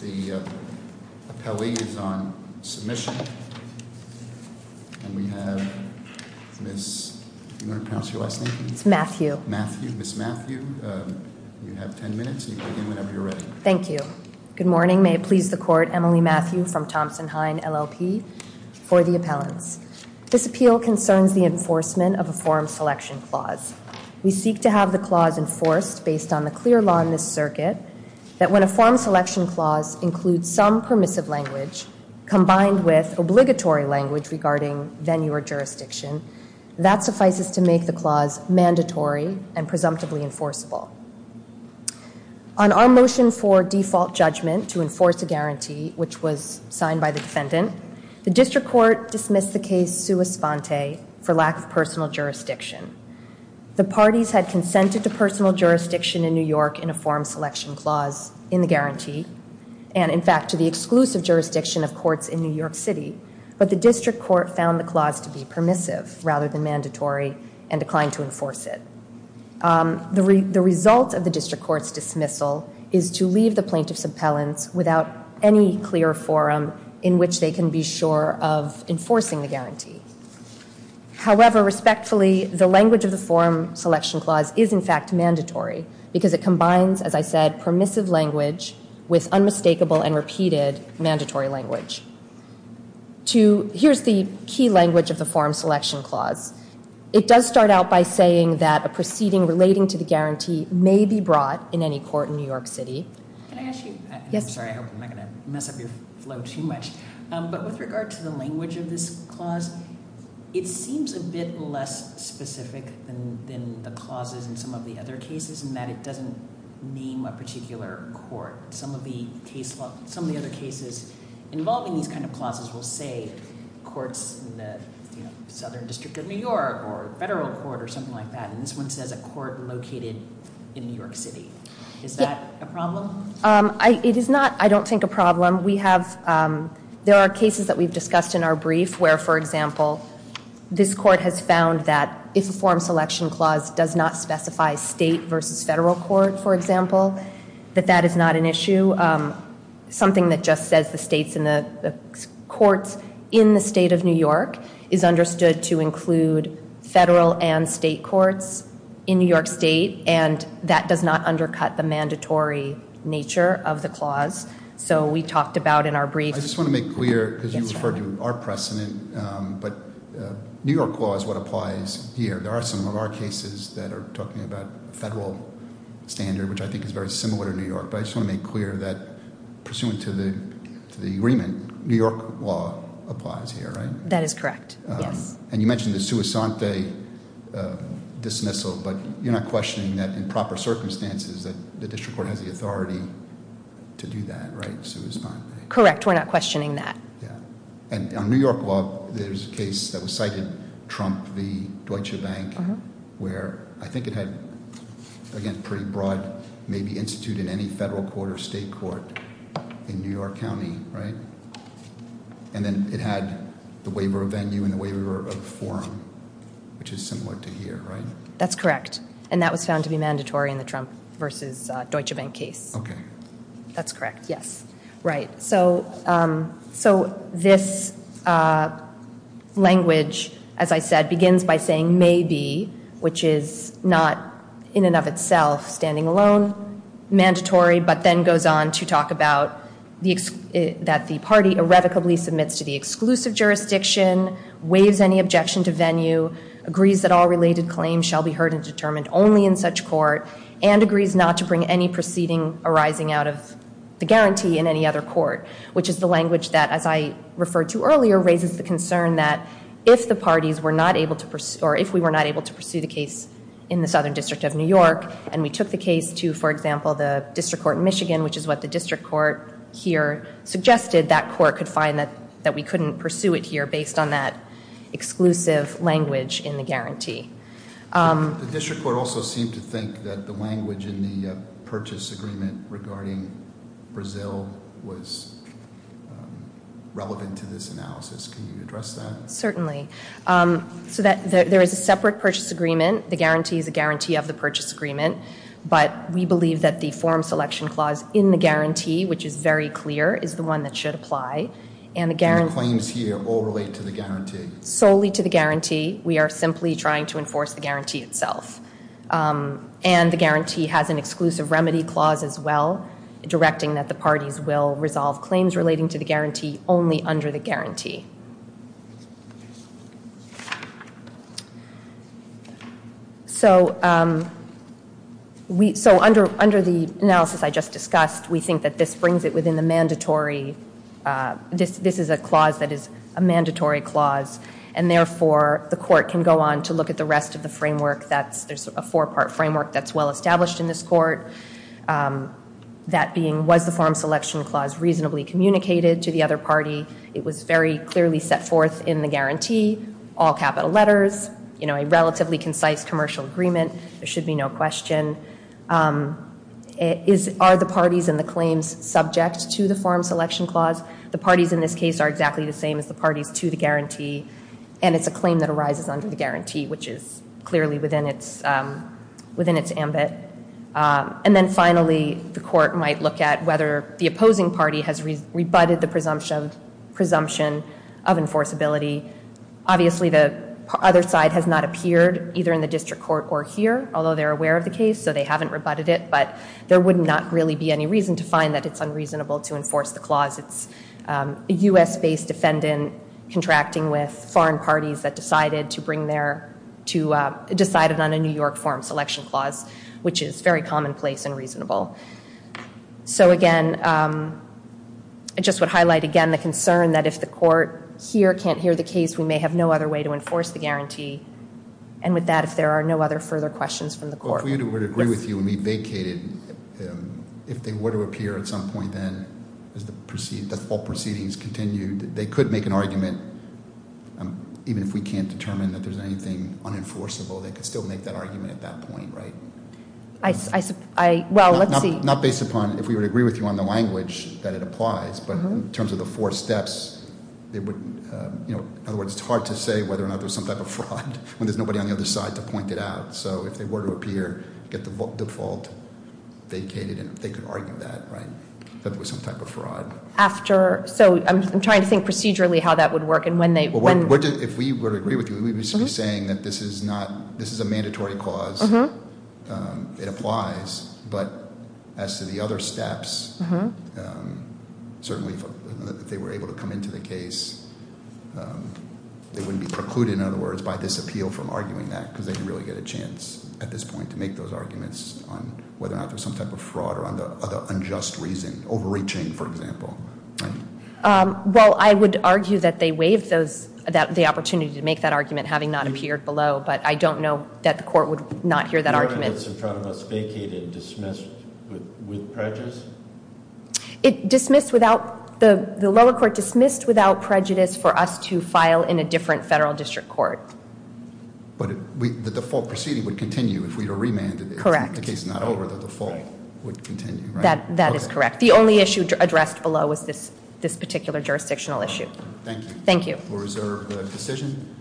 The appellee is on submission. And we have Miss... Do you want to pronounce your last name? It's Matthew. Matthew. Miss Matthew. You have ten minutes, and you can begin whenever you're ready. Thank you. Good morning. May it please the Court, Emily Matthew from Thompson-Hine, LLP for the appellants. This appeal concerns the enforcement of a form selection clause. We seek to have the clause enforced based on the clear law in this circuit that when a form selection clause includes some permissive language combined with obligatory language regarding venue or jurisdiction, that suffices to make the clause mandatory and presumptively enforceable. On our motion for default judgment to enforce a guarantee, which was signed by the defendant, the district court dismissed the case sua sponte for lack of personal jurisdiction. The parties had consented to personal jurisdiction in New York in a form selection clause in the guarantee, and in fact to the exclusive jurisdiction of courts in New York City, but the district court found the clause to be permissive rather than mandatory and declined to enforce it. The result of the district court's dismissal is to leave the plaintiff's appellants without any clear forum in which they can be sure of enforcing the guarantee. However, respectfully, the language of the form selection clause is in fact mandatory because it combines, as I said, permissive language with unmistakable and repeated mandatory language. Here's the key language of the form selection clause. It does start out by saying that a proceeding relating to the guarantee may be brought in any court in New York City. Can I ask you? Yes. I'm sorry. I hope I'm not going to mess up your flow too much, but with regard to the language of this clause, it seems a bit less specific than the clauses in some of the other cases in that it doesn't name a particular court. Some of the other cases involving these kind of clauses will say courts in the Southern District of New York or federal court or something like that, and this one says a court located in New York City. Is that a problem? It is not, I don't think, a problem. There are cases that we've discussed in our brief where, for example, this court has found that if a form selection clause does not specify state versus federal court, for example, that that is not an issue. Something that just says the states and the courts in the state of New York is understood to include federal and state courts in New York State, and that does not undercut the mandatory nature of the clause. So we talked about in our brief- I just want to make clear, because you referred to our precedent, but New York law is what applies here. There are some of our cases that are talking about federal standard, which I think is very similar to New York, but I just want to make clear that pursuant to the agreement, New York law applies here, right? That is correct. And you mentioned the sui sante dismissal, but you're not questioning that in proper circumstances that the district court has the authority to do that, right, sui sante? Correct. We're not questioning that. Yeah. And on New York law, there's a case that was cited, Trump v. Deutsche Bank, where I think it had, again, pretty broad maybe institute in any federal court or state court in New York County, right? And then it had the waiver of venue and the waiver of forum, which is similar to here, right? That's correct. And that was found to be mandatory in the Trump v. Deutsche Bank case. Okay. That's correct. Yes. Right. So this language, as I said, begins by saying maybe, which is not in and of itself standing alone, mandatory, but then goes on to talk about that the party irrevocably submits to the exclusive jurisdiction, waives any objection to venue, agrees that all related claims shall be heard and determined only in such court, and agrees not to bring any proceeding arising out of the guarantee in any other court, which is the language that, as I referred to earlier, raises the concern that if the parties were not able to pursue, or if we were not able to pursue the case in the Southern District of New York, and we took the case to, for example, the District Court in Michigan, which is what the District Court here suggested, that court could find that we couldn't pursue it here based on that exclusive language in the guarantee. The District Court also seemed to think that the language in the purchase agreement regarding Brazil was relevant to this analysis. Can you address that? Certainly. So there is a separate purchase agreement. The guarantee is a guarantee of the purchase agreement, but we believe that the form selection clause in the guarantee, which is very clear, is the one that should apply. And the guarantee- And the claims here all relate to the guarantee? Solely to the guarantee. We are simply trying to enforce the guarantee itself. will resolve claims relating to the guarantee only under the guarantee. So under the analysis I just discussed, we think that this brings it within the mandatory- This is a clause that is a mandatory clause, and therefore the court can go on to look at the rest of the framework that's- There's a four-part framework that's well-established in this court. That being, was the form selection clause reasonably communicated to the other party? It was very clearly set forth in the guarantee, all capital letters, a relatively concise commercial agreement. There should be no question. Are the parties and the claims subject to the form selection clause? The parties in this case are exactly the same as the parties to the guarantee, and it's a claim that arises under the guarantee, which is clearly within its ambit. And then finally, the court might look at whether the opposing party has rebutted the presumption of enforceability. Obviously, the other side has not appeared, either in the district court or here, although they're aware of the case, so they haven't rebutted it. But there would not really be any reason to find that it's unreasonable to enforce the clause. It's a U.S.-based defendant contracting with foreign parties that decided to bring their- which is very commonplace and reasonable. So again, I just would highlight, again, the concern that if the court here can't hear the case, we may have no other way to enforce the guarantee. And with that, if there are no other further questions from the court- But if we were to agree with you and we vacated, if they were to appear at some point then, as the full proceedings continued, they could make an argument, even if we can't determine that there's anything unenforceable, they could still make that argument at that point, right? I- well, let's see- Not based upon if we would agree with you on the language that it applies, but in terms of the four steps, they would- in other words, it's hard to say whether or not there's some type of fraud when there's nobody on the other side to point it out. So if they were to appear, get the default vacated, they could argue that, right? That there was some type of fraud. After- so I'm trying to think procedurally how that would work and when they- If we were to agree with you, we would be saying that this is not- this is a mandatory clause. It applies, but as to the other steps, certainly, if they were able to come into the case, they wouldn't be precluded, in other words, by this appeal from arguing that, because they can really get a chance at this point to make those arguments on whether or not there's some type of fraud or on the unjust reason, overreaching, for example, right? Well, I would argue that they waived those- the opportunity to make that argument, having not appeared below, but I don't know that the court would not hear that argument. The argument that's in front of us vacated, dismissed, with prejudice? It dismissed without- the lower court dismissed without prejudice for us to file in a different federal district court. But the default proceeding would continue if we were remanded- Correct. If the case is not over, the default would continue, right? That is correct. The only issue addressed below is this particular jurisdictional issue. Thank you. Thank you. We'll reserve the decision.